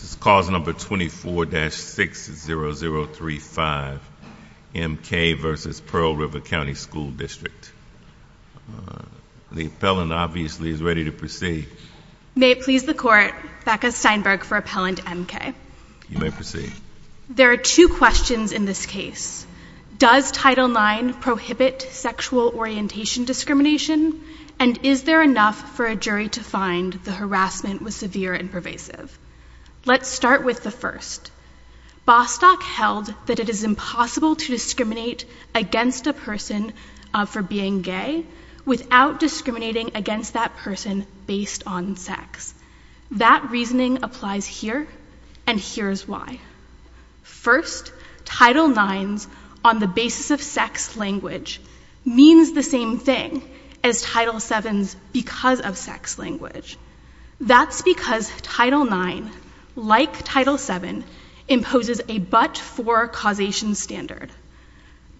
This is cause number 24-60035, M.K. v. Pearl River County School District. The appellant, obviously, is ready to proceed. May it please the Court, Becca Steinberg for Appellant M.K. You may proceed. There are two questions in this case. Does Title IX prohibit sexual orientation discrimination? And is there enough for a jury to find the harassment was severe and pervasive? Let's start with the first. Bostock held that it is impossible to discriminate against a person for being gay without discriminating against that person based on sex. That reasoning applies here, and here's why. First, Title IX's on-the-basis-of-sex language means the same thing as Title VII's because-of-sex language. That's because Title IX, like Title VII, imposes a but-for causation standard.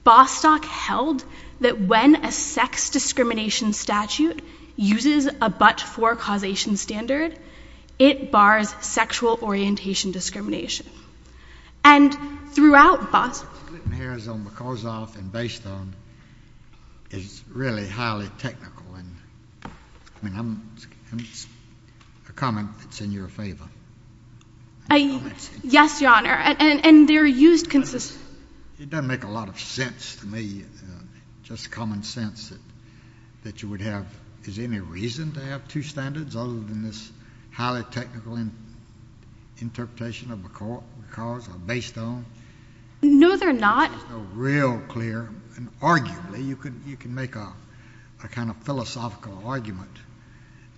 Bostock held that when a sex discrimination statute uses a but-for causation standard, it bars sexual orientation discrimination. And throughout Bostock- It's written here as on-the-cause-of and based-on. It's really highly technical. I mean, it's a comment that's in your favor. Yes, Your Honor, and they're used consistently. It doesn't make a lot of sense to me, just common sense, that you would have, is there any reason to have two standards other than this highly technical interpretation of because or based on? No, there are not. Real clear, and arguably you can make a kind of philosophical argument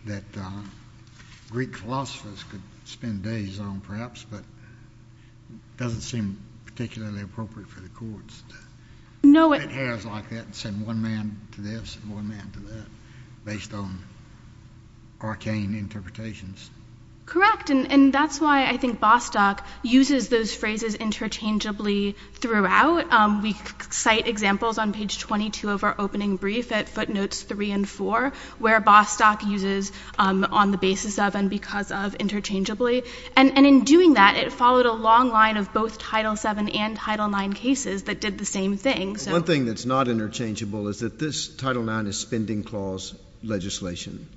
that Greek philosophers could spend days on perhaps, but it doesn't seem particularly appropriate for the courts to put hairs like that and send one man to this and one man to that based on arcane interpretations. Correct, and that's why I think Bostock uses those phrases interchangeably throughout. We cite examples on page 22 of our opening brief at footnotes 3 and 4 where Bostock uses on the basis of and because of interchangeably. And in doing that, it followed a long line of both Title VII and Title IX cases that did the same thing. One thing that's not interchangeable is that this Title IX is spending clause legislation,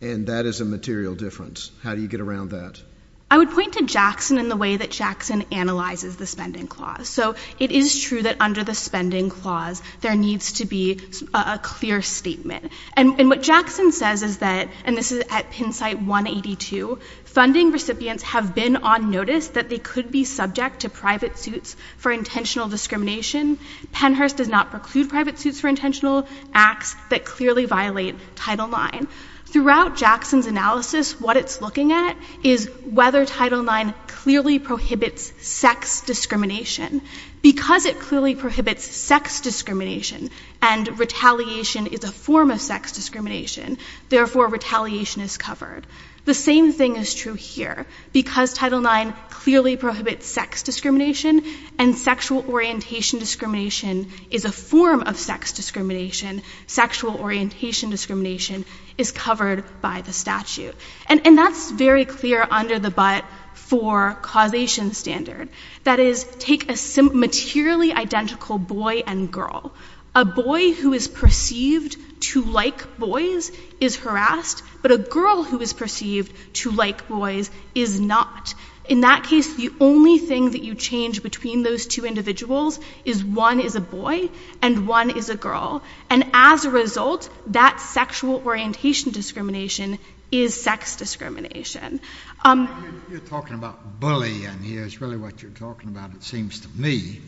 and that is a material difference. How do you get around that? I would point to Jackson and the way that Jackson analyzes the spending clause. So it is true that under the spending clause there needs to be a clear statement, and what Jackson says is that, and this is at Penn site 182, funding recipients have been on notice that they could be subject to private suits for intentional discrimination. Pennhurst does not preclude private suits for intentional acts that clearly violate Title IX. Throughout Jackson's analysis, what it's looking at is whether Title IX clearly prohibits sex discrimination. Because it clearly prohibits sex discrimination and retaliation is a form of sex discrimination, therefore retaliation is covered. The same thing is true here. Because Title IX clearly prohibits sex discrimination and sexual orientation discrimination is a form of sex discrimination, sexual orientation discrimination is covered by the statute. And that's very clear under the but for causation standard. That is, take a materially identical boy and girl. A boy who is perceived to like boys is harassed, but a girl who is perceived to like boys is not. In that case, the only thing that you change between those two individuals is one is a boy and one is a girl. And as a result, that sexual orientation discrimination is sex discrimination. You're talking about bullying here is really what you're talking about, it seems to me.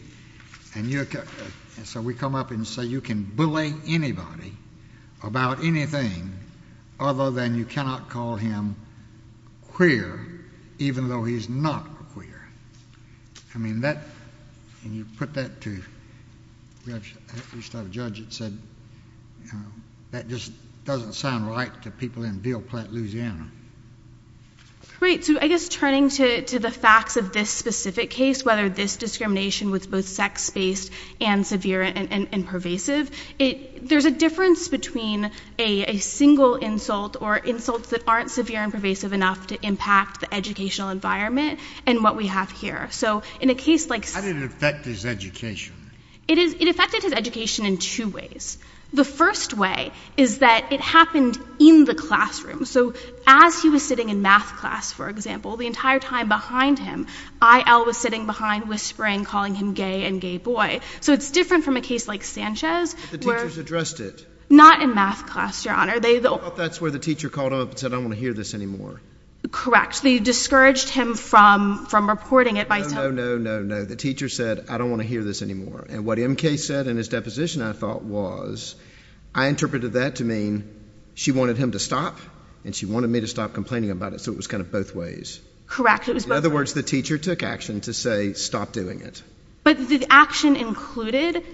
And so we come up and say you can bully anybody about anything other than you cannot call him queer even though he's not queer. I mean, that, and you put that to, at least have a judge that said that just doesn't sound right to people in Beale Platt, Louisiana. Great. So I guess turning to the facts of this specific case, whether this discrimination was both sex-based and severe and pervasive, there's a difference between a single insult or insults that aren't severe and pervasive enough to impact the educational environment and what we have here. So in a case like... How did it affect his education? It affected his education in two ways. The first way is that it happened in the classroom. So as he was sitting in math class, for example, the entire time behind him, IL was sitting behind whispering, calling him gay and gay boy. So it's different from a case like Sanchez where... But the teachers addressed it. Not in math class, Your Honor. I thought that's where the teacher called up and said, I don't want to hear this anymore. Correct. They discouraged him from reporting it by... No, no, no, no, no. The teacher said, I don't want to hear this anymore. And what MK said in his deposition, I thought, was... I interpreted that to mean she wanted him to stop and she wanted me to stop complaining about it. So it was kind of both ways. Correct. It was both ways. In other words, the teacher took action to say, stop doing it. But the action included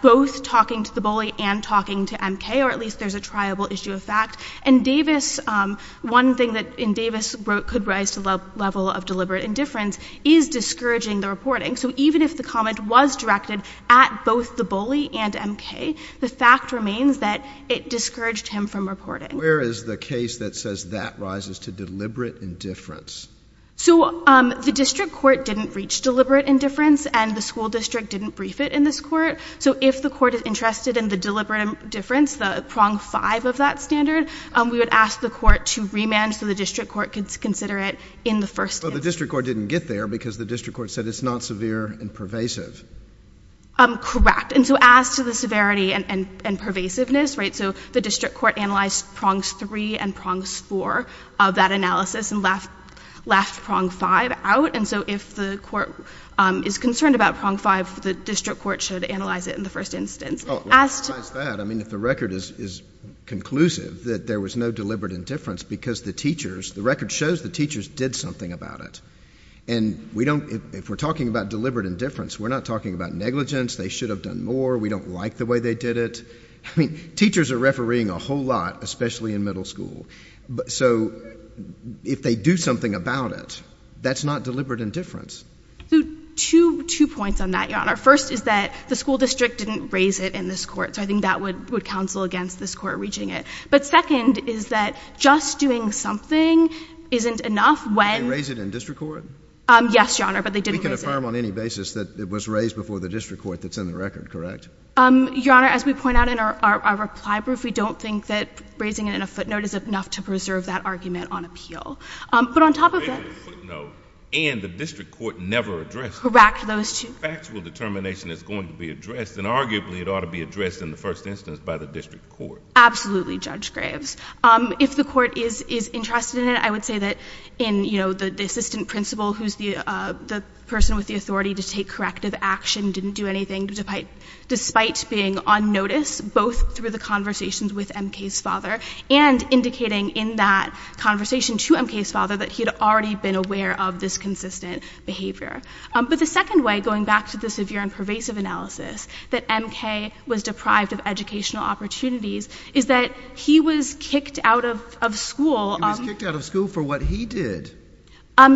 both talking to the bully and talking to MK, or at least there's a triable issue of fact. And Davis... One thing that Davis wrote could rise to the level of deliberate indifference is discouraging the reporting. So even if the comment was directed at both the bully and MK, the fact remains that it discouraged him from reporting. Where is the case that says that rises to deliberate indifference? So the district court didn't reach deliberate indifference and the school district didn't brief it in this court. So if the court is interested in the deliberate indifference, the prong five of that standard, we would ask the court to remand so the district court could consider it in the first instance. Well, the district court didn't get there because the district court said it's not severe and pervasive. Correct. And so as to the severity and pervasiveness, right, so the district court analyzed prongs three and prongs four of that analysis and left prong five out. And so if the court is concerned about prong five, the district court should analyze it in the first instance. As to that, I mean, if the record is conclusive that there was no deliberate indifference because the teachers, I mean, that shows the teachers did something about it. And we don't, if we're talking about deliberate indifference, we're not talking about negligence. They should have done more. We don't like the way they did it. I mean, teachers are refereeing a whole lot, especially in middle school. So if they do something about it, that's not deliberate indifference. Two points on that, Your Honor. First is that the school district didn't raise it in this court. So I think that would counsel against this court reaching it. But second is that just doing something isn't enough when. Did they raise it in district court? Yes, Your Honor, but they didn't raise it. We can affirm on any basis that it was raised before the district court that's in the record, correct? Your Honor, as we point out in our reply brief, we don't think that raising it in a footnote is enough to preserve that argument on appeal. But on top of that. Raising it in a footnote and the district court never addressed it. Correct, those two. Factual determination is going to be addressed, and arguably it ought to be addressed in the first instance by the district court. Absolutely, Judge Graves. If the court is interested in it, I would say that in, you know, the assistant principal, who's the person with the authority to take corrective action, didn't do anything despite being on notice, both through the conversations with M.K.'s father and indicating in that conversation to M.K.'s father that he had already been aware of this consistent behavior. But the second way, going back to the severe and pervasive analysis, that M.K. was deprived of educational opportunities is that he was kicked out of school. He was kicked out of school for what he did.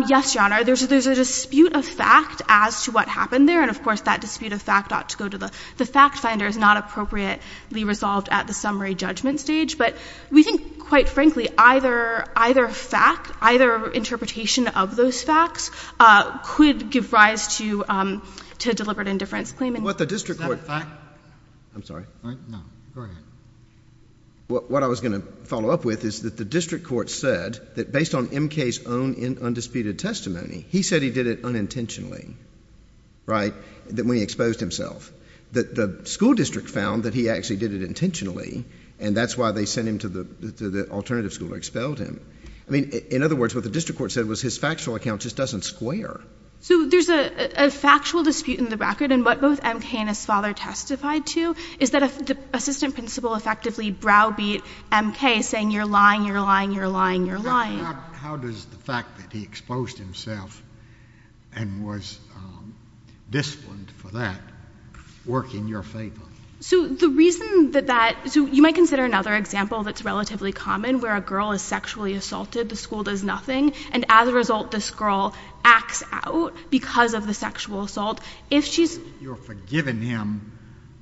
Yes, Your Honor. There's a dispute of fact as to what happened there. And, of course, that dispute of fact ought to go to the fact finder. It's not appropriately resolved at the summary judgment stage. But we think, quite frankly, either fact, either interpretation of those facts could give rise to deliberate indifference claim. Is that a fact? I'm sorry. No, go ahead. What I was going to follow up with is that the district court said that based on M.K.'s own undisputed testimony, he said he did it unintentionally, right, that when he exposed himself. That the school district found that he actually did it intentionally, and that's why they sent him to the alternative school or expelled him. I mean, in other words, what the district court said was his factual account just doesn't square. So there's a factual dispute in the record, and what both M.K. and his father testified to is that the assistant principal effectively browbeat M.K. saying, you're lying, you're lying, you're lying, you're lying. How does the fact that he exposed himself and was disciplined for that work in your favor? So the reason that that – so you might consider another example that's relatively common, where a girl is sexually assaulted, the school does nothing, and as a result this girl acts out because of the sexual assault. You're forgiving him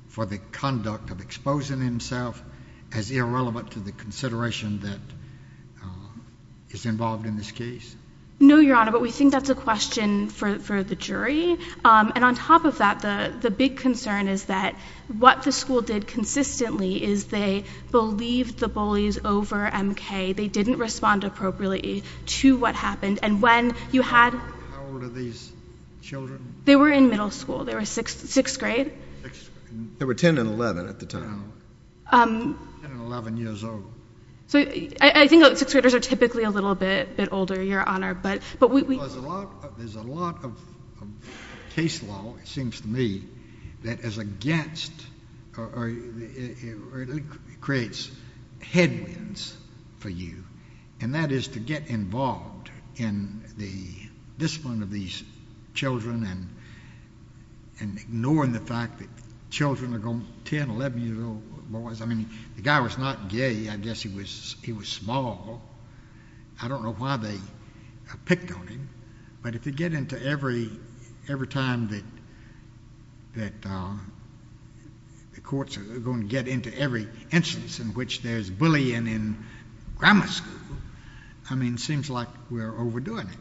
for the conduct of exposing himself as irrelevant to the consideration that is involved in this case? No, Your Honor, but we think that's a question for the jury. And on top of that, the big concern is that what the school did consistently is they believed the bullies over M.K. They didn't respond appropriately to what happened, and when you had – How old are these children? They were in middle school. They were sixth grade. They were 10 and 11 at the time. 10 and 11 years old. So I think sixth graders are typically a little bit older, Your Honor, but we – There's a lot of case law, it seems to me, that is against or creates headwinds for you, and that is to get involved in the discipline of these children and ignoring the fact that children are going – 10, 11-year-old boys. I mean, the guy was not gay. I guess he was small. I don't know why they picked on him, but if you get into every time that the courts are going to get into every instance in which there's bullying in grammar school, I mean, it seems like we're overdoing it.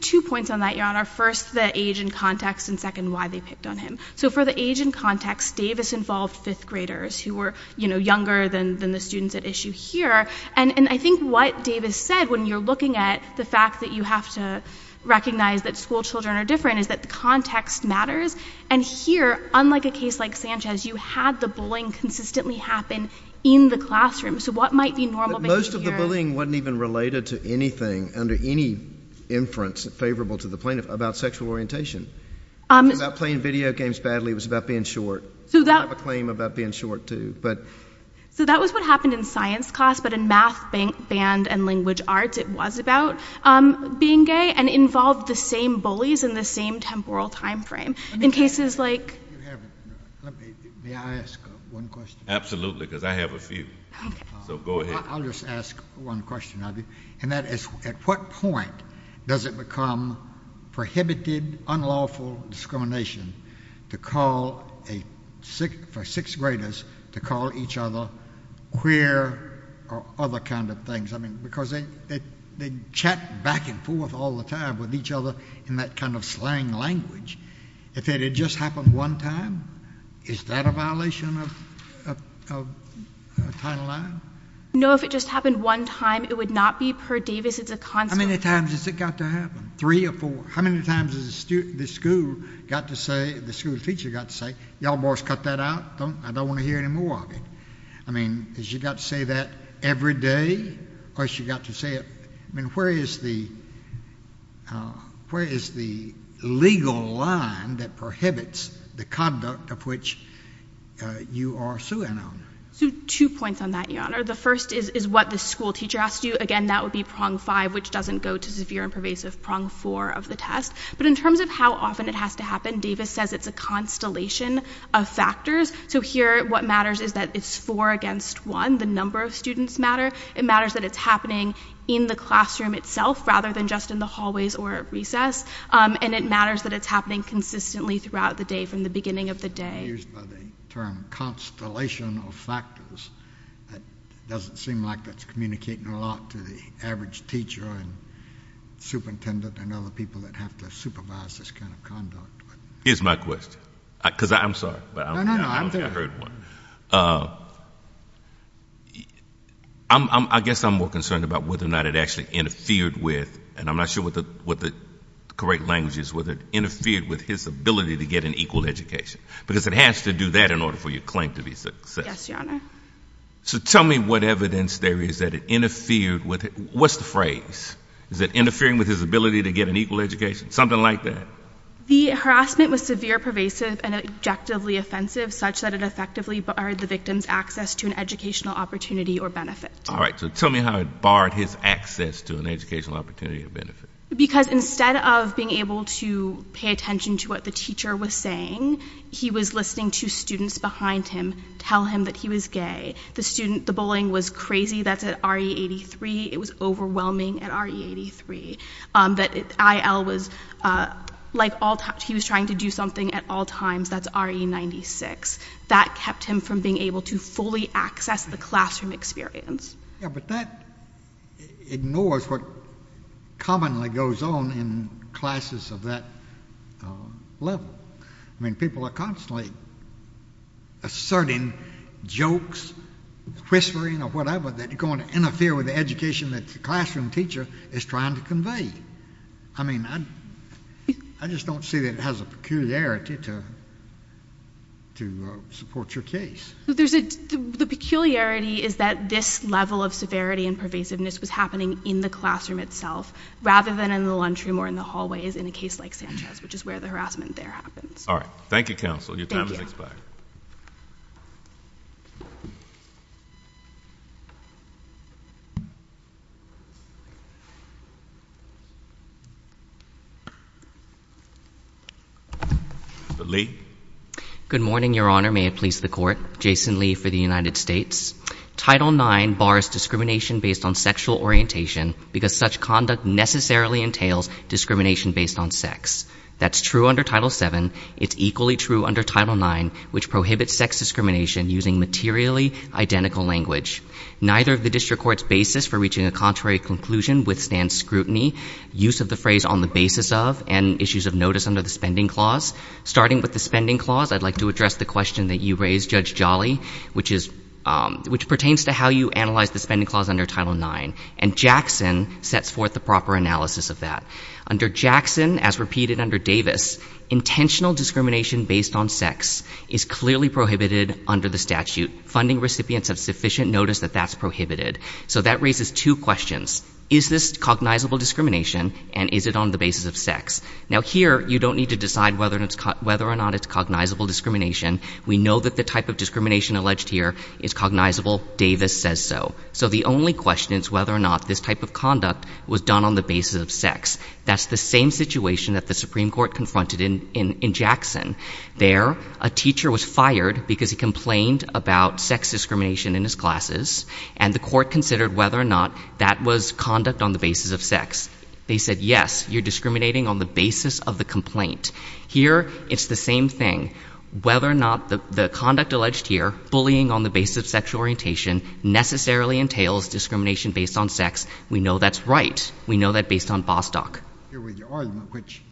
Two points on that, Your Honor. First, the age and context, and second, why they picked on him. So for the age and context, Davis involved fifth graders who were younger than the students at issue here. And I think what Davis said when you're looking at the fact that you have to recognize that school children are different is that the context matters. And here, unlike a case like Sanchez, you had the bullying consistently happen in the classroom. So what might be normal – Most of the bullying wasn't even related to anything under any inference favorable to the plaintiff about sexual orientation. It was about playing video games badly. It was about being short. I have a claim about being short, too. So that was what happened in science class, but in math, band, and language arts, it was about being gay and involved the same bullies in the same temporal timeframe. In cases like – May I ask one question? Absolutely, because I have a few. So go ahead. I'll just ask one question. And that is, at what point does it become prohibited, unlawful discrimination for sixth graders to call each other queer or other kind of things? Because they chat back and forth all the time with each other in that kind of slang language. If it had just happened one time, is that a violation of Title IX? No, if it just happened one time, it would not be per Davis. It's a consequence. How many times has it got to happen, three or four? How many times has the school got to say – the school teacher got to say, y'all boys cut that out. I don't want to hear any more of it. I mean, has she got to say that every day, or has she got to say it – I mean, where is the legal line that prohibits the conduct of which you are suing on? Two points on that, Your Honor. The first is what the school teacher asked you. Again, that would be prong five, which doesn't go to severe and pervasive prong four of the test. But in terms of how often it has to happen, Davis says it's a constellation of factors. So here, what matters is that it's four against one. The number of students matter. It matters that it's happening in the classroom itself rather than just in the hallways or at recess. And it matters that it's happening consistently throughout the day from the beginning of the day. Used by the term constellation of factors. It doesn't seem like that's communicating a lot to the average teacher and superintendent and other people that have to supervise this kind of conduct. Here's my question, because I'm sorry. No, no, no. I don't think I heard one. I guess I'm more concerned about whether or not it actually interfered with – and I'm not sure what the correct language is – whether it interfered with his ability to get an equal education. Because it has to do that in order for your claim to be successful. Yes, Your Honor. So tell me what evidence there is that it interfered with – what's the phrase? Is it interfering with his ability to get an equal education? Something like that. The harassment was severe, pervasive, and objectively offensive, such that it effectively barred the victim's access to an educational opportunity or benefit. All right. So tell me how it barred his access to an educational opportunity or benefit. Because instead of being able to pay attention to what the teacher was saying, he was listening to students behind him tell him that he was gay. The student – the bullying was crazy. That's at RE83. It was overwhelming at RE83. That IL was – like all – he was trying to do something at all times. That's RE96. That kept him from being able to fully access the classroom experience. Yeah, but that ignores what commonly goes on in classes of that level. I mean, people are constantly asserting jokes, whispering, or whatever, that are going to interfere with the education that the classroom teacher is trying to convey. I mean, I just don't see that it has a peculiarity to support your case. The peculiarity is that this level of severity and pervasiveness was happening in the classroom itself rather than in the lunchroom or in the hallways in a case like Sanchez, which is where the harassment there happens. All right. Thank you, counsel. Your time has expired. Thank you. Lee. Good morning, Your Honor. May it please the Court. Jason Lee for the United States. Title IX bars discrimination based on sexual orientation because such conduct necessarily entails discrimination based on sex. That's true under Title VII. It's equally true under Title IX, which prohibits sex discrimination using materially identical language. Neither of the district court's basis for reaching a contrary conclusion withstands scrutiny, use of the phrase on the basis of, and issues of notice under the Spending Clause. Starting with the Spending Clause, I'd like to address the question that you raised, Judge Jolly, which pertains to how you analyze the Spending Clause under Title IX. And Jackson sets forth the proper analysis of that. Under Jackson, as repeated under Davis, intentional discrimination based on sex is clearly prohibited under the statute. Funding recipients have sufficient notice that that's prohibited. So that raises two questions. Is this cognizable discrimination, and is it on the basis of sex? Now, here you don't need to decide whether or not it's cognizable discrimination. We know that the type of discrimination alleged here is cognizable. Davis says so. So the only question is whether or not this type of conduct was done on the basis of sex. That's the same situation that the Supreme Court confronted in Jackson. There, a teacher was fired because he complained about sex discrimination in his classes, and the court considered whether or not that was conduct on the basis of sex. They said, yes, you're discriminating on the basis of the complaint. Here, it's the same thing. Whether or not the conduct alleged here, bullying on the basis of sexual orientation necessarily entails discrimination based on sex, we know that's right. We know that based on Bostock. I agree with your argument, which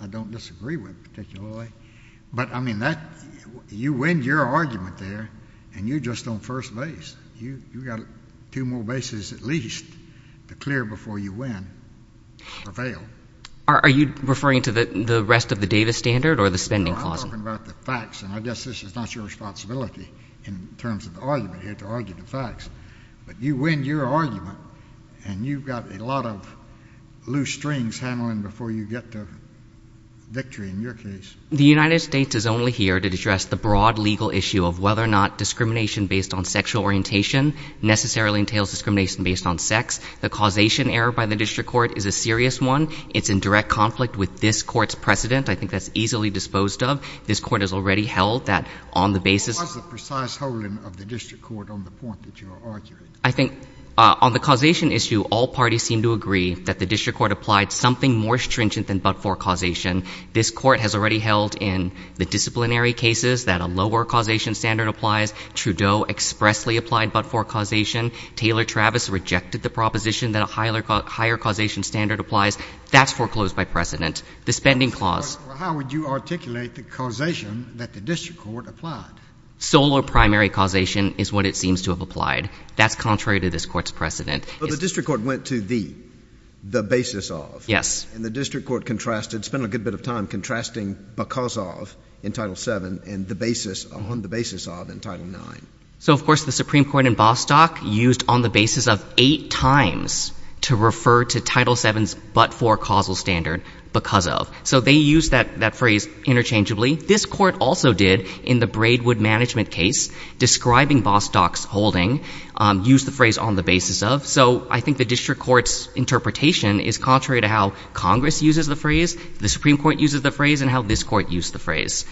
I don't disagree with particularly. But, I mean, you win your argument there, and you're just on first base. You've got two more bases at least to clear before you win or fail. Are you referring to the rest of the Davis standard or the spending clause? I'm talking about the facts, and I guess this is not your responsibility in terms of the argument here, to argue the facts. But you win your argument, and you've got a lot of loose strings handling before you get to victory in your case. The United States is only here to address the broad legal issue of whether or not discrimination based on sexual orientation necessarily entails discrimination based on sex. The causation error by the district court is a serious one. It's in direct conflict with this court's precedent. I think that's easily disposed of. This court has already held that on the basis of What's the precise holding of the district court on the point that you are arguing? I think on the causation issue, all parties seem to agree that the district court applied something more stringent than but-for causation. This court has already held in the disciplinary cases that a lower causation standard applies. Trudeau expressly applied but-for causation. Taylor-Travis rejected the proposition that a higher causation standard applies. That's foreclosed by precedent. The spending clause How would you articulate the causation that the district court applied? Sole or primary causation is what it seems to have applied. That's contrary to this court's precedent. But the district court went to the, the basis of. Yes. And the district court contrasted, spent a good bit of time contrasting because of in Title VII and the basis, on the basis of in Title IX. So, of course, the Supreme Court in Bostock used on the basis of eight times to refer to Title VII's but-for causal standard because of. So they used that, that phrase interchangeably. This court also did in the Braidwood management case, describing Bostock's holding, used the phrase on the basis of. So I think the district court's interpretation is contrary to how Congress uses the phrase, the Supreme Court uses the phrase, and how this court used the phrase.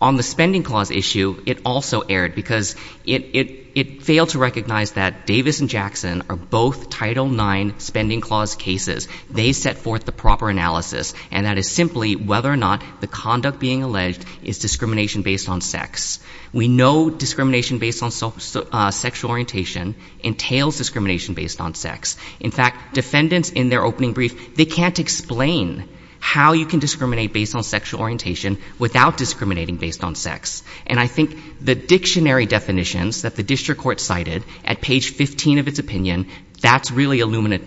On the spending clause issue, it also erred because it, it, it failed to recognize that Davis and Jackson are both Title IX spending clause cases. They set forth the proper analysis. And that is simply whether or not the conduct being alleged is discrimination based on sex. We know discrimination based on sexual orientation entails discrimination based on sex. In fact, defendants in their opening brief, they can't explain how you can discriminate based on sexual orientation without discriminating based on sex. And I think the dictionary definitions that the district court cited at page 15 of its opinion, that's really illuminate,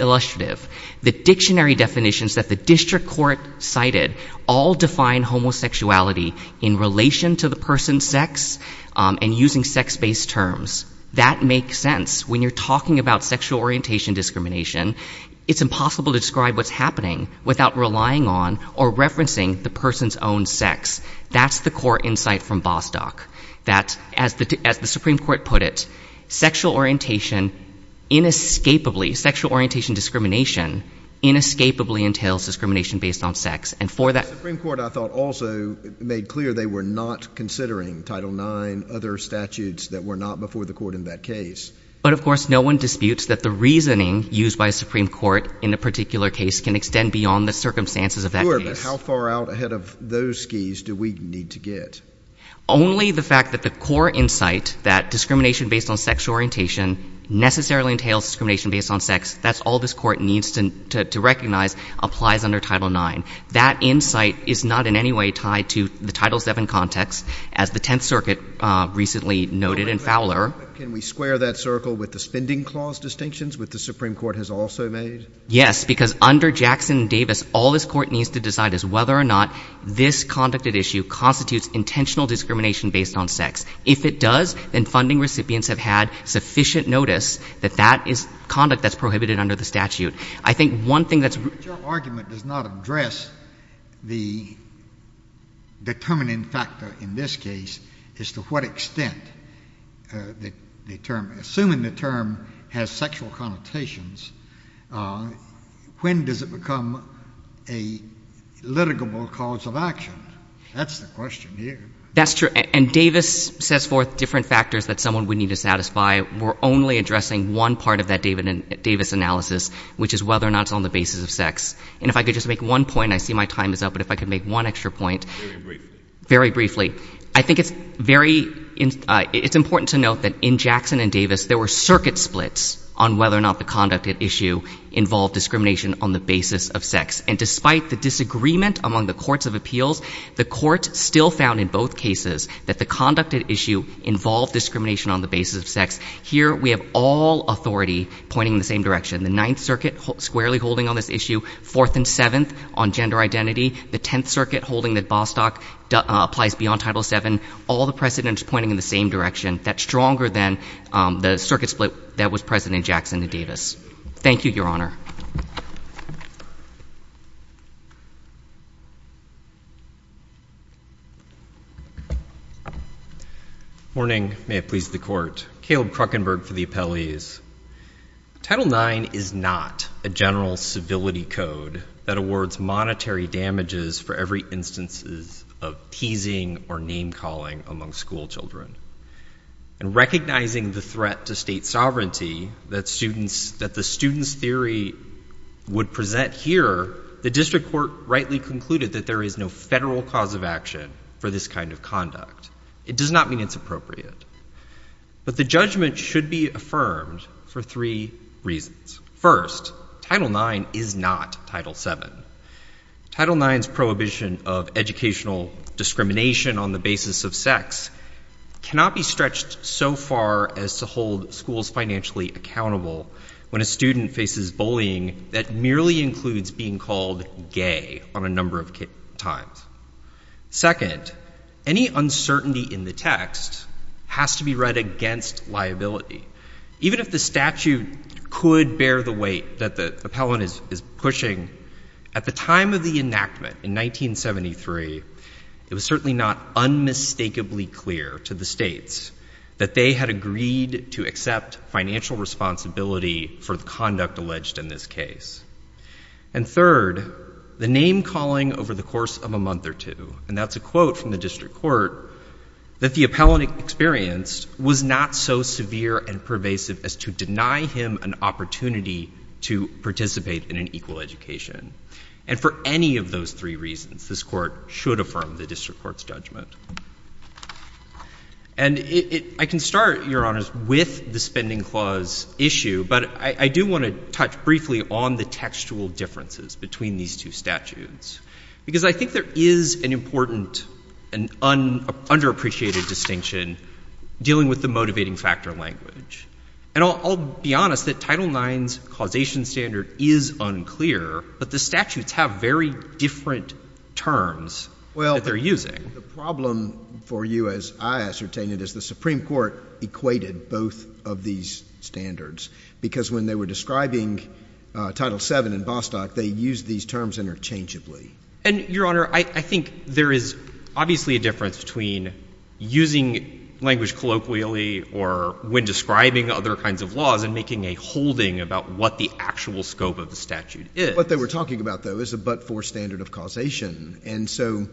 illustrative. The dictionary definitions that the district court cited all define homosexuality in relation to the person's sex and using sex-based terms. That makes sense. When you're talking about sexual orientation discrimination, it's impossible to describe what's happening without relying on or referencing the person's own sex. That's the core insight from Bostock. That, as the, as the Supreme Court put it, sexual orientation inescapably, sexual orientation discrimination inescapably entails discrimination based on sex. The Supreme Court, I thought, also made clear they were not considering Title IX, other statutes that were not before the court in that case. But, of course, no one disputes that the reasoning used by a Supreme Court in a particular case can extend beyond the circumstances of that case. Sure, but how far out ahead of those skis do we need to get? Only the fact that the core insight that discrimination based on sexual orientation necessarily entails discrimination based on sex, that's all this court needs to recognize, applies under Title IX. That insight is not in any way tied to the Title VII context, as the Tenth Circuit recently noted in Fowler. Can we square that circle with the spending clause distinctions, which the Supreme Court has also made? Yes, because under Jackson and Davis, all this court needs to decide is whether or not this conducted issue constitutes intentional discrimination based on sex. If it does, then funding recipients have had sufficient notice that that is conduct that's prohibited under the statute. I think one thing that's— But your argument does not address the determining factor in this case as to what extent the term — assuming the term has sexual connotations, when does it become a litigable cause of action? That's the question here. That's true. And Davis sets forth different factors that someone would need to satisfy. We're only addressing one part of that Davis analysis, which is whether or not it's on the basis of sex. And if I could just make one point, I see my time is up, but if I could make one extra point. Very briefly. Very briefly. I think it's very—it's important to note that in Jackson and Davis, there were circuit splits on whether or not the conducted issue involved discrimination on the basis of sex. And despite the disagreement among the courts of appeals, the court still found in both cases that the conducted issue involved discrimination on the basis of sex. Here we have all authority pointing in the same direction. The Ninth Circuit squarely holding on this issue. Fourth and Seventh on gender identity. The Tenth Circuit holding that Bostock applies beyond Title VII. All the precedents pointing in the same direction. That's stronger than the circuit split that was present in Jackson and Davis. Thank you, Your Honor. Thank you, Your Honor. Morning. May it please the Court. Caleb Kruckenberg for the appellees. Title IX is not a general civility code that awards monetary damages for every instances of teasing or name-calling among schoolchildren. And recognizing the threat to state sovereignty that students—that the students' theory would present here, the district court rightly concluded that there is no federal cause of action for this kind of conduct. It does not mean it's appropriate. But the judgment should be affirmed for three reasons. First, Title IX is not Title VII. Title IX's prohibition of educational discrimination on the basis of sex cannot be stretched so far as to hold schools financially accountable when a student faces bullying that merely includes being called gay on a number of times. Second, any uncertainty in the text has to be read against liability. Even if the statute could bear the weight that the appellant is pushing, at the time of the enactment in 1973, it was certainly not unmistakably clear to the states that they had agreed to accept financial responsibility for the conduct alleged in this case. And third, the name-calling over the course of a month or two—and that's a quote from the district court—that the appellant experienced was not so severe and pervasive as to deny him an opportunity to participate in an equal education. And for any of those three reasons, this Court should affirm the district court's judgment. And I can start, Your Honors, with the Spending Clause issue, but I do want to touch briefly on the textual differences between these two statutes. Because I think there is an important and underappreciated distinction dealing with the motivating factor language. And I'll be honest that Title IX's causation standard is unclear, but the statutes have very different terms that they're using. The problem for you, as I ascertain it, is the Supreme Court equated both of these standards, because when they were describing Title VII in Bostock, they used these terms interchangeably. And, Your Honor, I think there is obviously a difference between using language colloquially or when describing other kinds of laws and making a holding about what the actual scope of the statute is. What they were talking about, though, is a but-for standard of causation. And so,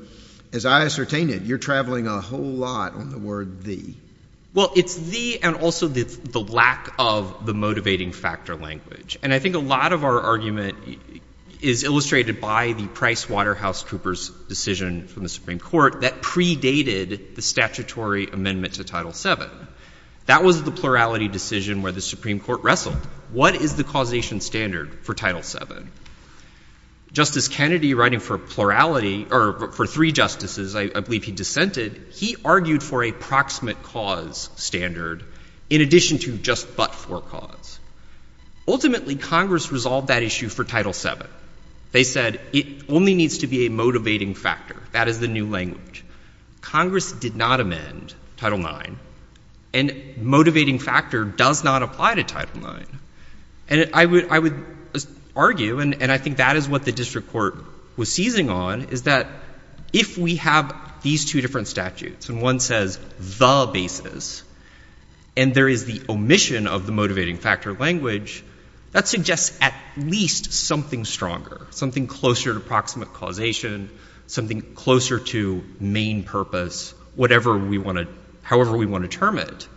as I ascertain it, you're traveling a whole lot on the word the. Well, it's the and also the lack of the motivating factor language. And I think a lot of our argument is illustrated by the PricewaterhouseCoopers decision from the Supreme Court that predated the statutory amendment to Title VII. That was the plurality decision where the Supreme Court wrestled. What is the causation standard for Title VII? Justice Kennedy, writing for plurality or for three justices, I believe he dissented, he argued for a proximate cause standard in addition to just but-for cause. Ultimately, Congress resolved that issue for Title VII. They said it only needs to be a motivating factor. That is the new language. Congress did not amend Title IX, and motivating factor does not apply to Title IX. And I would argue, and I think that is what the district court was seizing on, is that if we have these two different statutes and one says the basis, and there is the omission of the motivating factor language, that suggests at least something stronger, something closer to proximate causation, something closer to main purpose, however we want to term it.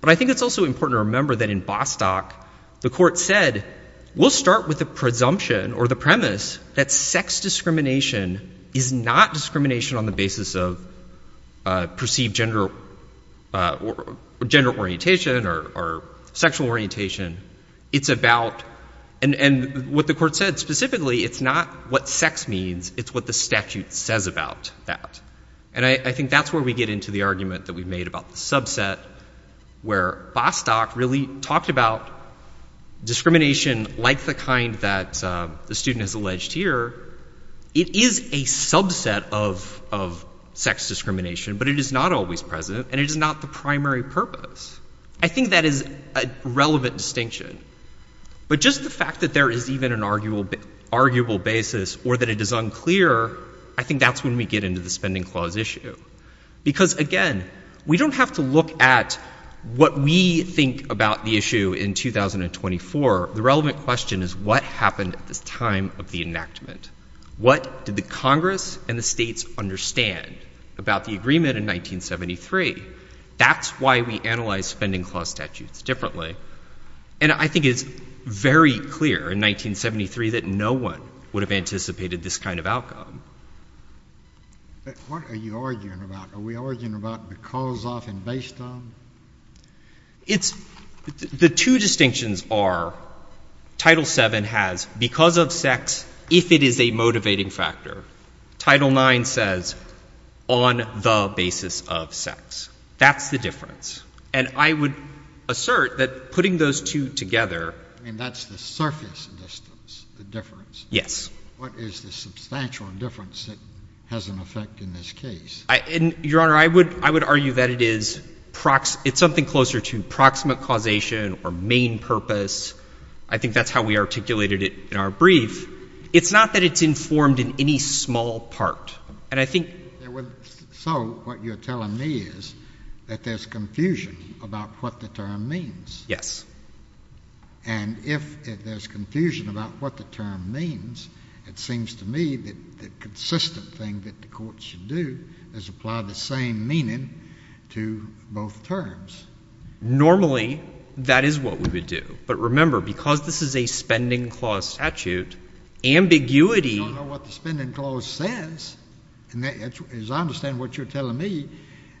But I think it's also important to remember that in Bostock, the court said, we'll start with the presumption or the premise that sex discrimination is not discrimination on the basis of perceived gender orientation or sexual orientation. It's about, and what the court said specifically, it's not what sex means. It's what the statute says about that. And I think that's where we get into the argument that we made about the subset, where Bostock really talked about discrimination like the kind that the student has alleged here. It is a subset of sex discrimination, but it is not always present, and it is not the primary purpose. I think that is a relevant distinction. But just the fact that there is even an arguable basis or that it is unclear, I think that's when we get into the spending clause issue. Because, again, we don't have to look at what we think about the issue in 2024. The relevant question is what happened at this time of the enactment. What did the Congress and the states understand about the agreement in 1973? That's why we analyze spending clause statutes differently. And I think it's very clear in 1973 that no one would have anticipated this kind of outcome. But what are you arguing about? Are we arguing about because of and based on? The two distinctions are Title VII has because of sex if it is a motivating factor. Title IX says on the basis of sex. That's the difference. And I would assert that putting those two together. I mean, that's the surface distance, the difference. Yes. What is the substantial difference that has an effect in this case? Your Honor, I would argue that it is something closer to proximate causation or main purpose. I think that's how we articulated it in our brief. It's not that it's informed in any small part. And I think. So what you're telling me is that there's confusion about what the term means. Yes. And if there's confusion about what the term means, it seems to me that the consistent thing that the court should do is apply the same meaning to both terms. Normally, that is what we would do. But remember, because this is a spending clause statute, ambiguity. I don't know what the spending clause says. As I understand what you're telling me,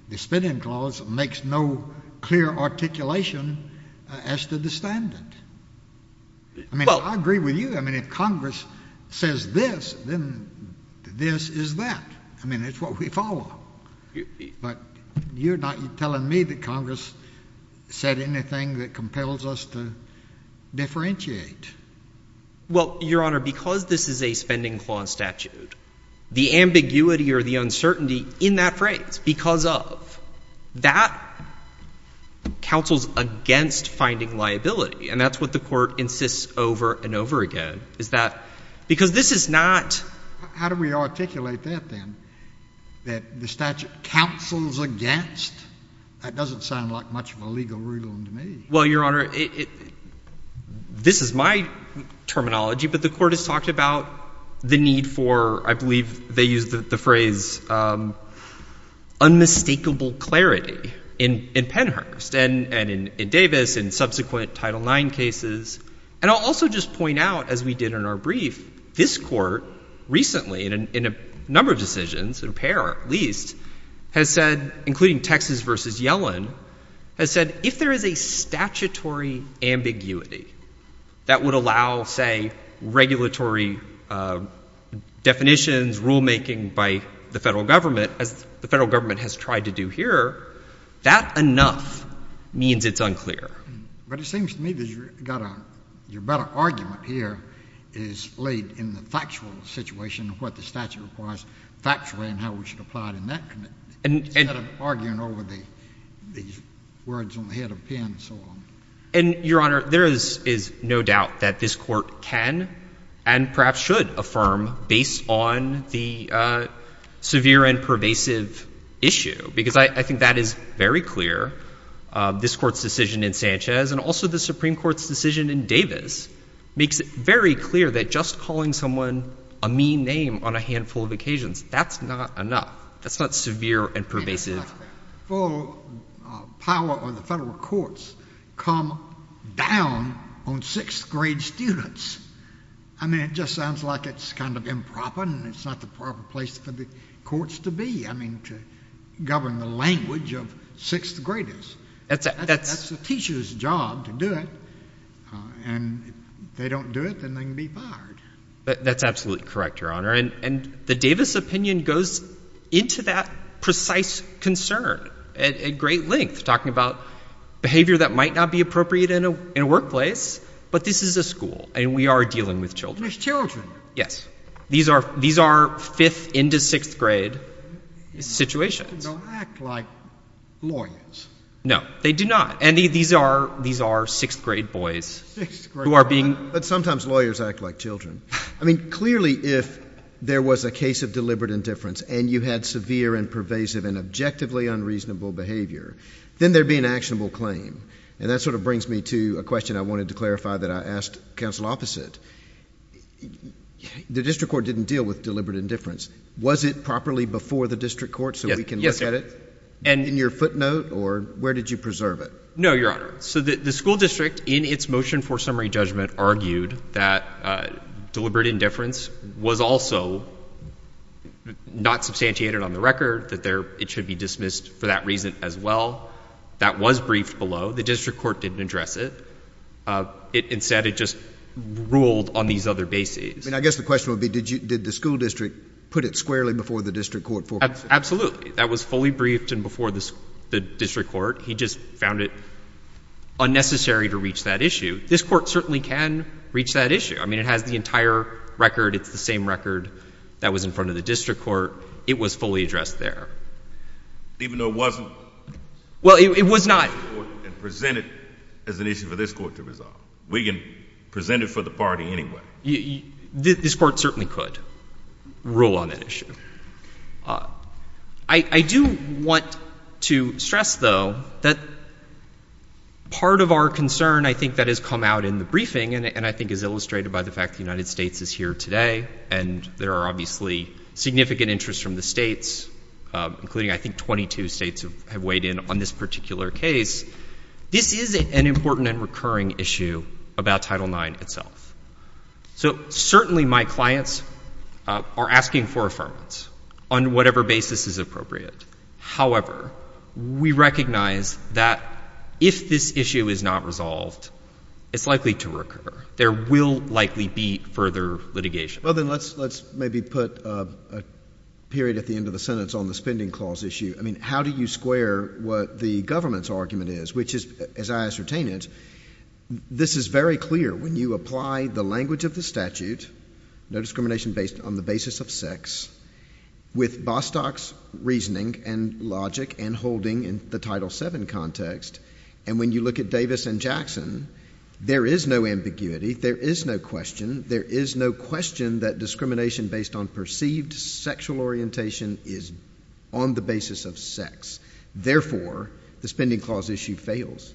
the spending clause makes no clear articulation as to the standard. I mean, I agree with you. I mean, if Congress says this, then this is that. I mean, it's what we follow. But you're not telling me that Congress said anything that compels us to differentiate. Well, Your Honor, because this is a spending clause statute, the ambiguity or the uncertainty in that phrase, because of, that counsels against finding liability. And that's what the court insists over and over again, is that because this is not. How do we articulate that then, that the statute counsels against? That doesn't sound like much of a legal ruling to me. Well, Your Honor, this is my terminology, but the court has talked about the need for, I believe they used the phrase, unmistakable clarity in Pennhurst and in Davis and subsequent Title IX cases. And I'll also just point out, as we did in our brief, this court recently, in a number of decisions, in a pair at least, has said, including Texas v. Yellen, has said, if there is a statutory ambiguity that would allow, say, regulatory definitions, rulemaking by the federal government, as the federal government has tried to do here, that enough means it's unclear. But it seems to me that your better argument here is laid in the factual situation of what the statute requires factually and how we should apply it in that committee, instead of arguing over the words on the head of Penn and so on. And, Your Honor, there is no doubt that this court can and perhaps should affirm, based on the severe and pervasive issue, because I think that is very clear. This court's decision in Sanchez and also the Supreme Court's decision in Davis makes it very clear that just calling someone a mean name on a handful of occasions, that's not enough. That's not severe and pervasive. Full power of the federal courts come down on sixth-grade students. I mean, it just sounds like it's kind of improper and it's not the proper place for the courts to be, I mean, to govern the language of sixth graders. That's the teacher's job to do it. And if they don't do it, then they can be fired. That's absolutely correct, Your Honor. And the Davis opinion goes into that precise concern at great length, talking about behavior that might not be appropriate in a workplace, but this is a school and we are dealing with children. There's children. Yes. These are fifth- into sixth-grade situations. They don't act like lawyers. No, they do not. And these are sixth-grade boys who are being ---- But sometimes lawyers act like children. I mean, clearly if there was a case of deliberate indifference and you had severe and pervasive and objectively unreasonable behavior, then there would be an actionable claim. And that sort of brings me to a question I wanted to clarify that I asked counsel opposite. The district court didn't deal with deliberate indifference. Was it properly before the district court so we can look at it? In your footnote or where did you preserve it? No, Your Honor. So the school district, in its motion for summary judgment, argued that deliberate indifference was also not substantiated on the record, that it should be dismissed for that reason as well. That was briefed below. The district court didn't address it. Instead, it just ruled on these other bases. I mean, I guess the question would be did the school district put it squarely before the district court? Absolutely. That was fully briefed and before the district court. He just found it unnecessary to reach that issue. This court certainly can reach that issue. I mean, it has the entire record. It's the same record that was in front of the district court. It was fully addressed there. Even though it wasn't? Well, it was not. And presented as an issue for this court to resolve. We can present it for the party anyway. This court certainly could rule on that issue. I do want to stress, though, that part of our concern, I think, that has come out in the briefing and I think is illustrated by the fact that the United States is here today and there are obviously significant interests from the states, including I think 22 states have weighed in on this particular case. This is an important and recurring issue about Title IX itself. So certainly my clients are asking for affirmance on whatever basis is appropriate. However, we recognize that if this issue is not resolved, it's likely to recur. There will likely be further litigation. Well, then let's maybe put a period at the end of the sentence on the spending clause issue. I mean, how do you square what the government's argument is? Which is, as I ascertain it, this is very clear. When you apply the language of the statute, no discrimination based on the basis of sex, with Bostock's reasoning and logic and holding in the Title VII context, and when you look at Davis and Jackson, there is no ambiguity. There is no question. There is no question that discrimination based on perceived sexual orientation is on the basis of sex. Therefore, the spending clause issue fails.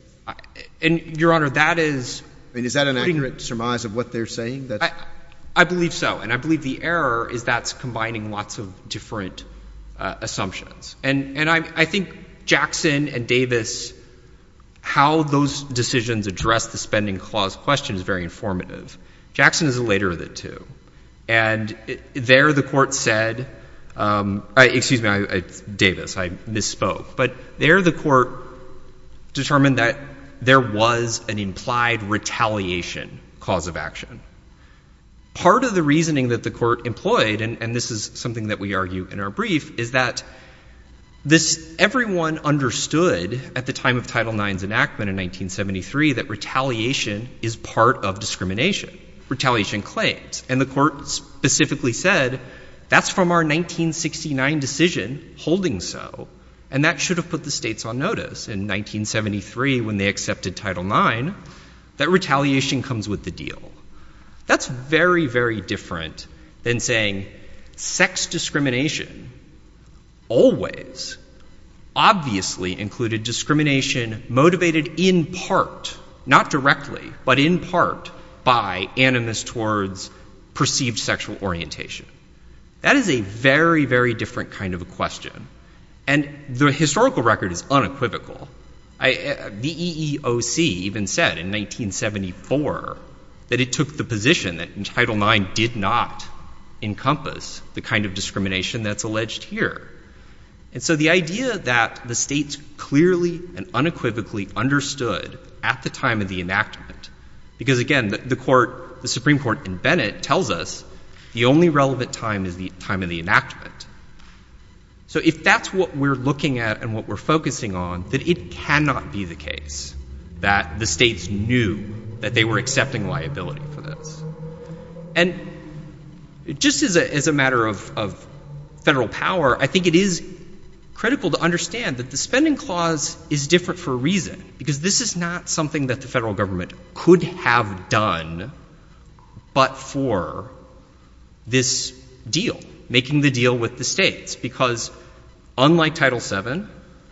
And, Your Honor, that is— I mean, is that an accurate surmise of what they're saying? I believe so, and I believe the error is that's combining lots of different assumptions. And I think Jackson and Davis, how those decisions address the spending clause question is very informative. Jackson is later of the two. And there the court said—excuse me, Davis, I misspoke. But there the court determined that there was an implied retaliation cause of action. Part of the reasoning that the court employed, and this is something that we argue in our brief, is that everyone understood at the time of Title IX's enactment in 1973 that retaliation is part of discrimination, retaliation claims. And the court specifically said that's from our 1969 decision holding so, and that should have put the states on notice in 1973 when they accepted Title IX, that retaliation comes with the deal. That's very, very different than saying sex discrimination always obviously included discrimination motivated in part, not directly, but in part by animus towards perceived sexual orientation. That is a very, very different kind of a question. And the historical record is unequivocal. The EEOC even said in 1974 that it took the position that Title IX did not encompass the kind of discrimination that's alleged here. And so the idea that the states clearly and unequivocally understood at the time of the enactment, because, again, the Supreme Court in Bennett tells us the only relevant time is the time of the enactment. So if that's what we're looking at and what we're focusing on, then it cannot be the case that the states knew that they were accepting liability for this. And just as a matter of federal power, I think it is critical to understand that the spending clause is different for a reason, because this is not something that the federal government could have done but for this deal, making the deal with the states, because unlike Title VII,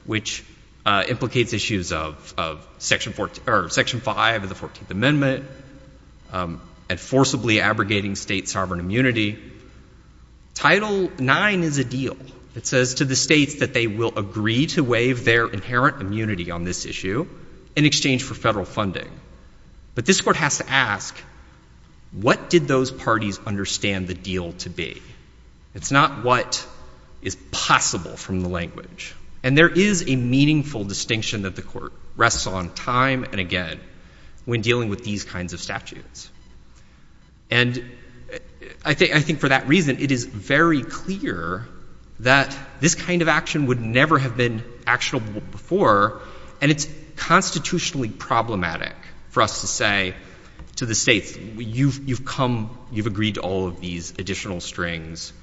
which implicates issues of Section 5 of the 14th Amendment and forcibly abrogating state sovereign immunity, Title IX is a deal that says to the states that they will agree to waive their inherent immunity on this issue in exchange for federal funding. But this Court has to ask, what did those parties understand the deal to be? It's not what is possible from the language. And there is a meaningful distinction that the Court rests on time and again when dealing with these kinds of statutes. And I think for that reason, it is very clear that this kind of action would never have been actionable before, and it's constitutionally problematic for us to say to the states, you've come, you've agreed to all of these additional strings,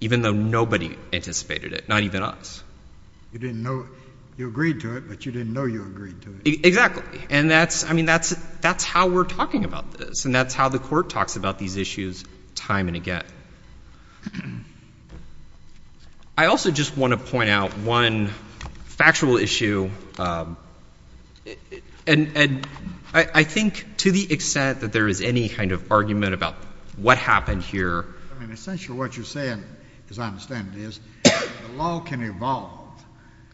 even though nobody anticipated it, not even us. You didn't know, you agreed to it, but you didn't know you agreed to it. Exactly. And that's, I mean, that's how we're talking about this, and that's how the Court talks about these issues time and again. I also just want to point out one factual issue, and I think to the extent that there is any kind of argument about what happened here. I mean, essentially what you're saying, as I understand it, is the law can evolve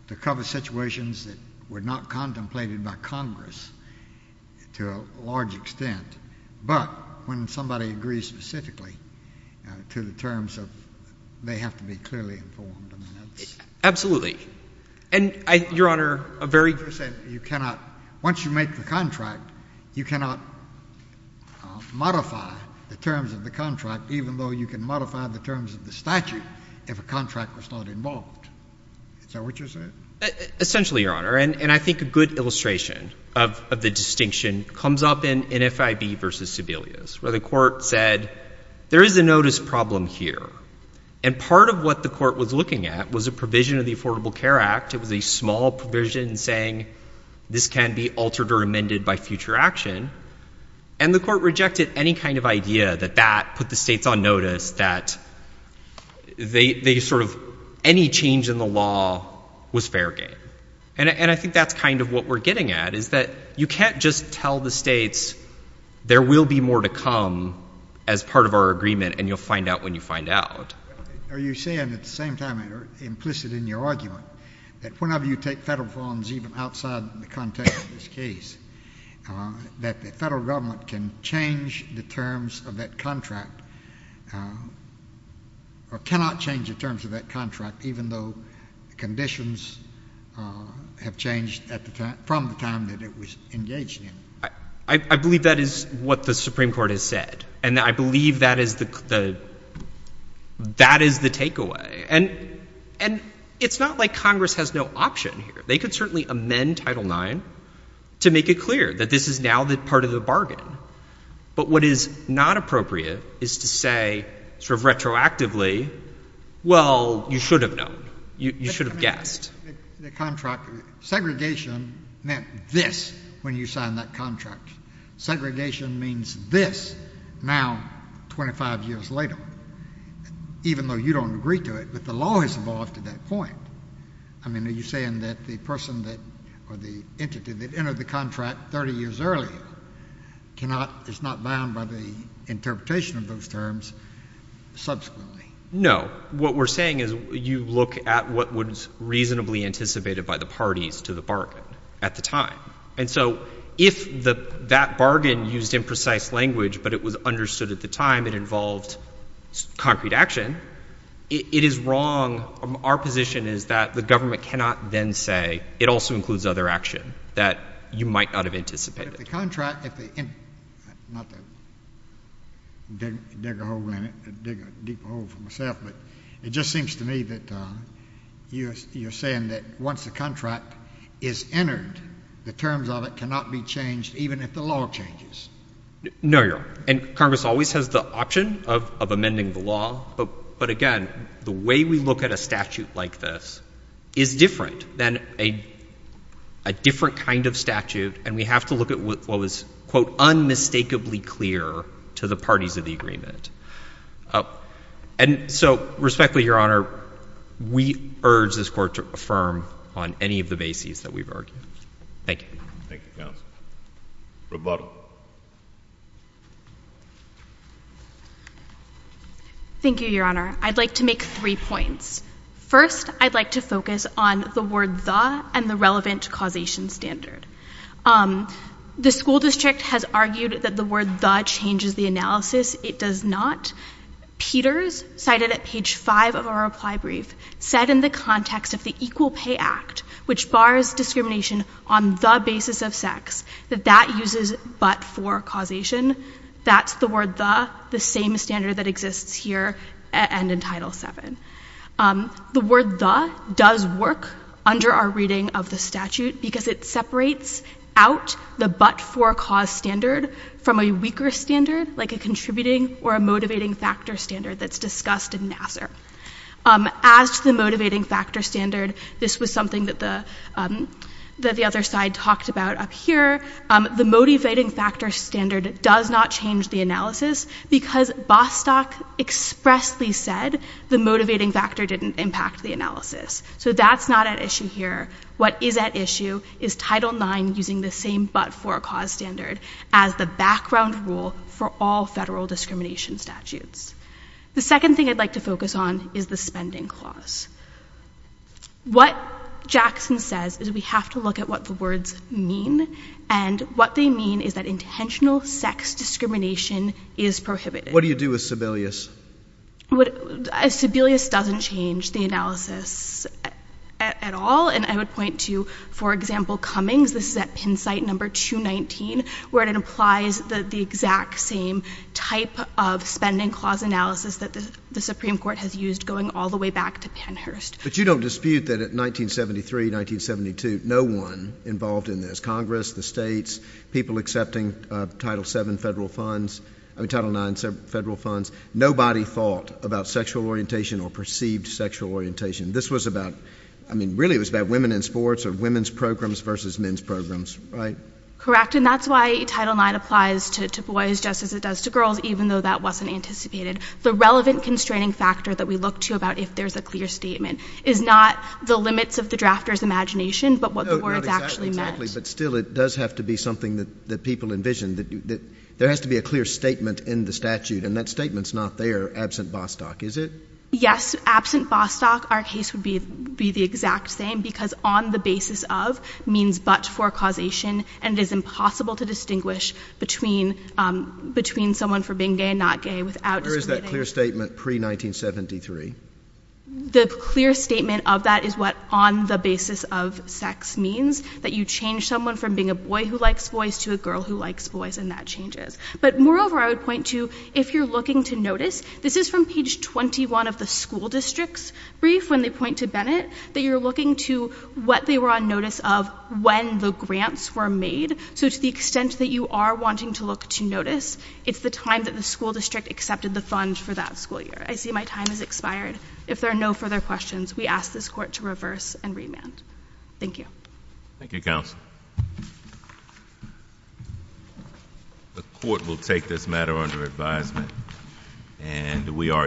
to cover situations that were not contemplated by Congress to a large extent. But when somebody agrees specifically to the terms of they have to be clearly informed, I mean, that's… Absolutely. And, Your Honor, a very… You're saying you cannot, once you make the contract, you cannot modify the terms of the contract, even though you can modify the terms of the statute if a contract was not involved. Is that what you're saying? Essentially, Your Honor, and I think a good illustration of the distinction comes up in NFIB v. Sebelius, where the Court said there is a notice problem here. And part of what the Court was looking at was a provision of the Affordable Care Act. It was a small provision saying this can be altered or amended by future action. And the Court rejected any kind of idea that that put the states on notice, that they sort of, any change in the law was fair game. And I think that's kind of what we're getting at, is that you can't just tell the states there will be more to come as part of our agreement, and you'll find out when you find out. Are you saying at the same time, implicit in your argument, that whenever you take federal funds, even outside the context of this case, that the federal government can change the terms of that contract, or cannot change the terms of that contract, even though conditions have changed from the time that it was engaged in? I believe that is what the Supreme Court has said, and I believe that is the takeaway. And it's not like Congress has no option here. They could certainly amend Title IX to make it clear that this is now part of the bargain. But what is not appropriate is to say sort of retroactively, well, you should have known. You should have guessed. The contract, segregation meant this when you signed that contract. Segregation means this now 25 years later, even though you don't agree to it. But the law has evolved to that point. I mean, are you saying that the person or the entity that entered the contract 30 years earlier is not bound by the interpretation of those terms subsequently? No. What we're saying is you look at what was reasonably anticipated by the parties to the bargain at the time. And so if that bargain used imprecise language but it was understood at the time it involved concrete action, it is wrong. Our position is that the government cannot then say it also includes other action that you might not have anticipated. But if the contract, not to dig a hole in it, dig a deep hole for myself, but it just seems to me that you're saying that once the contract is entered, the terms of it cannot be changed even if the law changes. No, Your Honor. And Congress always has the option of amending the law. But again, the way we look at a statute like this is different than a different kind of statute. And we have to look at what was, quote, unmistakably clear to the parties of the agreement. And so respectfully, Your Honor, we urge this Court to affirm on any of the bases that we've argued. Thank you. Thank you, counsel. Rebuttal. Thank you, Your Honor. I'd like to make three points. First, I'd like to focus on the word the and the relevant causation standard. The school district has argued that the word the changes the analysis. It does not. Peters, cited at page five of our reply brief, said in the context of the Equal Pay Act, which bars discrimination on the basis of sex, that that uses but-for causation. That's the word the, the same standard that exists here and in Title VII. The word the does work under our reading of the statute because it separates out the but-for cause standard from a weaker standard, like a contributing or a motivating factor standard that's discussed in Nassar. As to the motivating factor standard, this was something that the, that the other side talked about up here. The motivating factor standard does not change the analysis because Bostock expressly said the motivating factor didn't impact the analysis. So that's not at issue here. What is at issue is Title IX using the same but-for cause standard as the background rule for all federal discrimination statutes. The second thing I'd like to focus on is the spending clause. What Jackson says is we have to look at what the words mean, and what they mean is that intentional sex discrimination is prohibited. What do you do with Sebelius? Sebelius doesn't change the analysis at all, and I would point to, for example, Cummings. This is at Penn site number 219, where it implies the exact same type of spending clause analysis that the Supreme Court has used going all the way back to Pennhurst. But you don't dispute that in 1973, 1972, no one involved in this, Congress, the states, people accepting Title VII federal funds, I mean Title IX federal funds, nobody thought about sexual orientation or perceived sexual orientation. This was about, I mean really it was about women in sports or women's programs versus men's programs, right? Correct, and that's why Title IX applies to boys just as it does to girls, even though that wasn't anticipated. The relevant constraining factor that we look to about if there's a clear statement is not the limits of the drafter's imagination, but what the words actually meant. Exactly, but still it does have to be something that people envision. There has to be a clear statement in the statute, and that statement's not there absent Bostock, is it? Yes, absent Bostock, our case would be the exact same, because on the basis of means but for causation, and it is impossible to distinguish between someone for being gay and not gay without discriminating. Where is that clear statement pre-1973? The clear statement of that is what on the basis of sex means, that you change someone from being a boy who likes boys to a girl who likes boys, and that changes. But moreover, I would point to if you're looking to notice, this is from page 21 of the school district's brief when they point to Bennett, that you're looking to what they were on notice of when the grants were made, so to the extent that you are wanting to look to notice, it's the time that the school district accepted the funds for that school year. I see my time has expired. If there are no further questions, we ask this court to reverse and remand. Thank you. Thank you, counsel. The court will take this matter under advisement, and we are adjourned.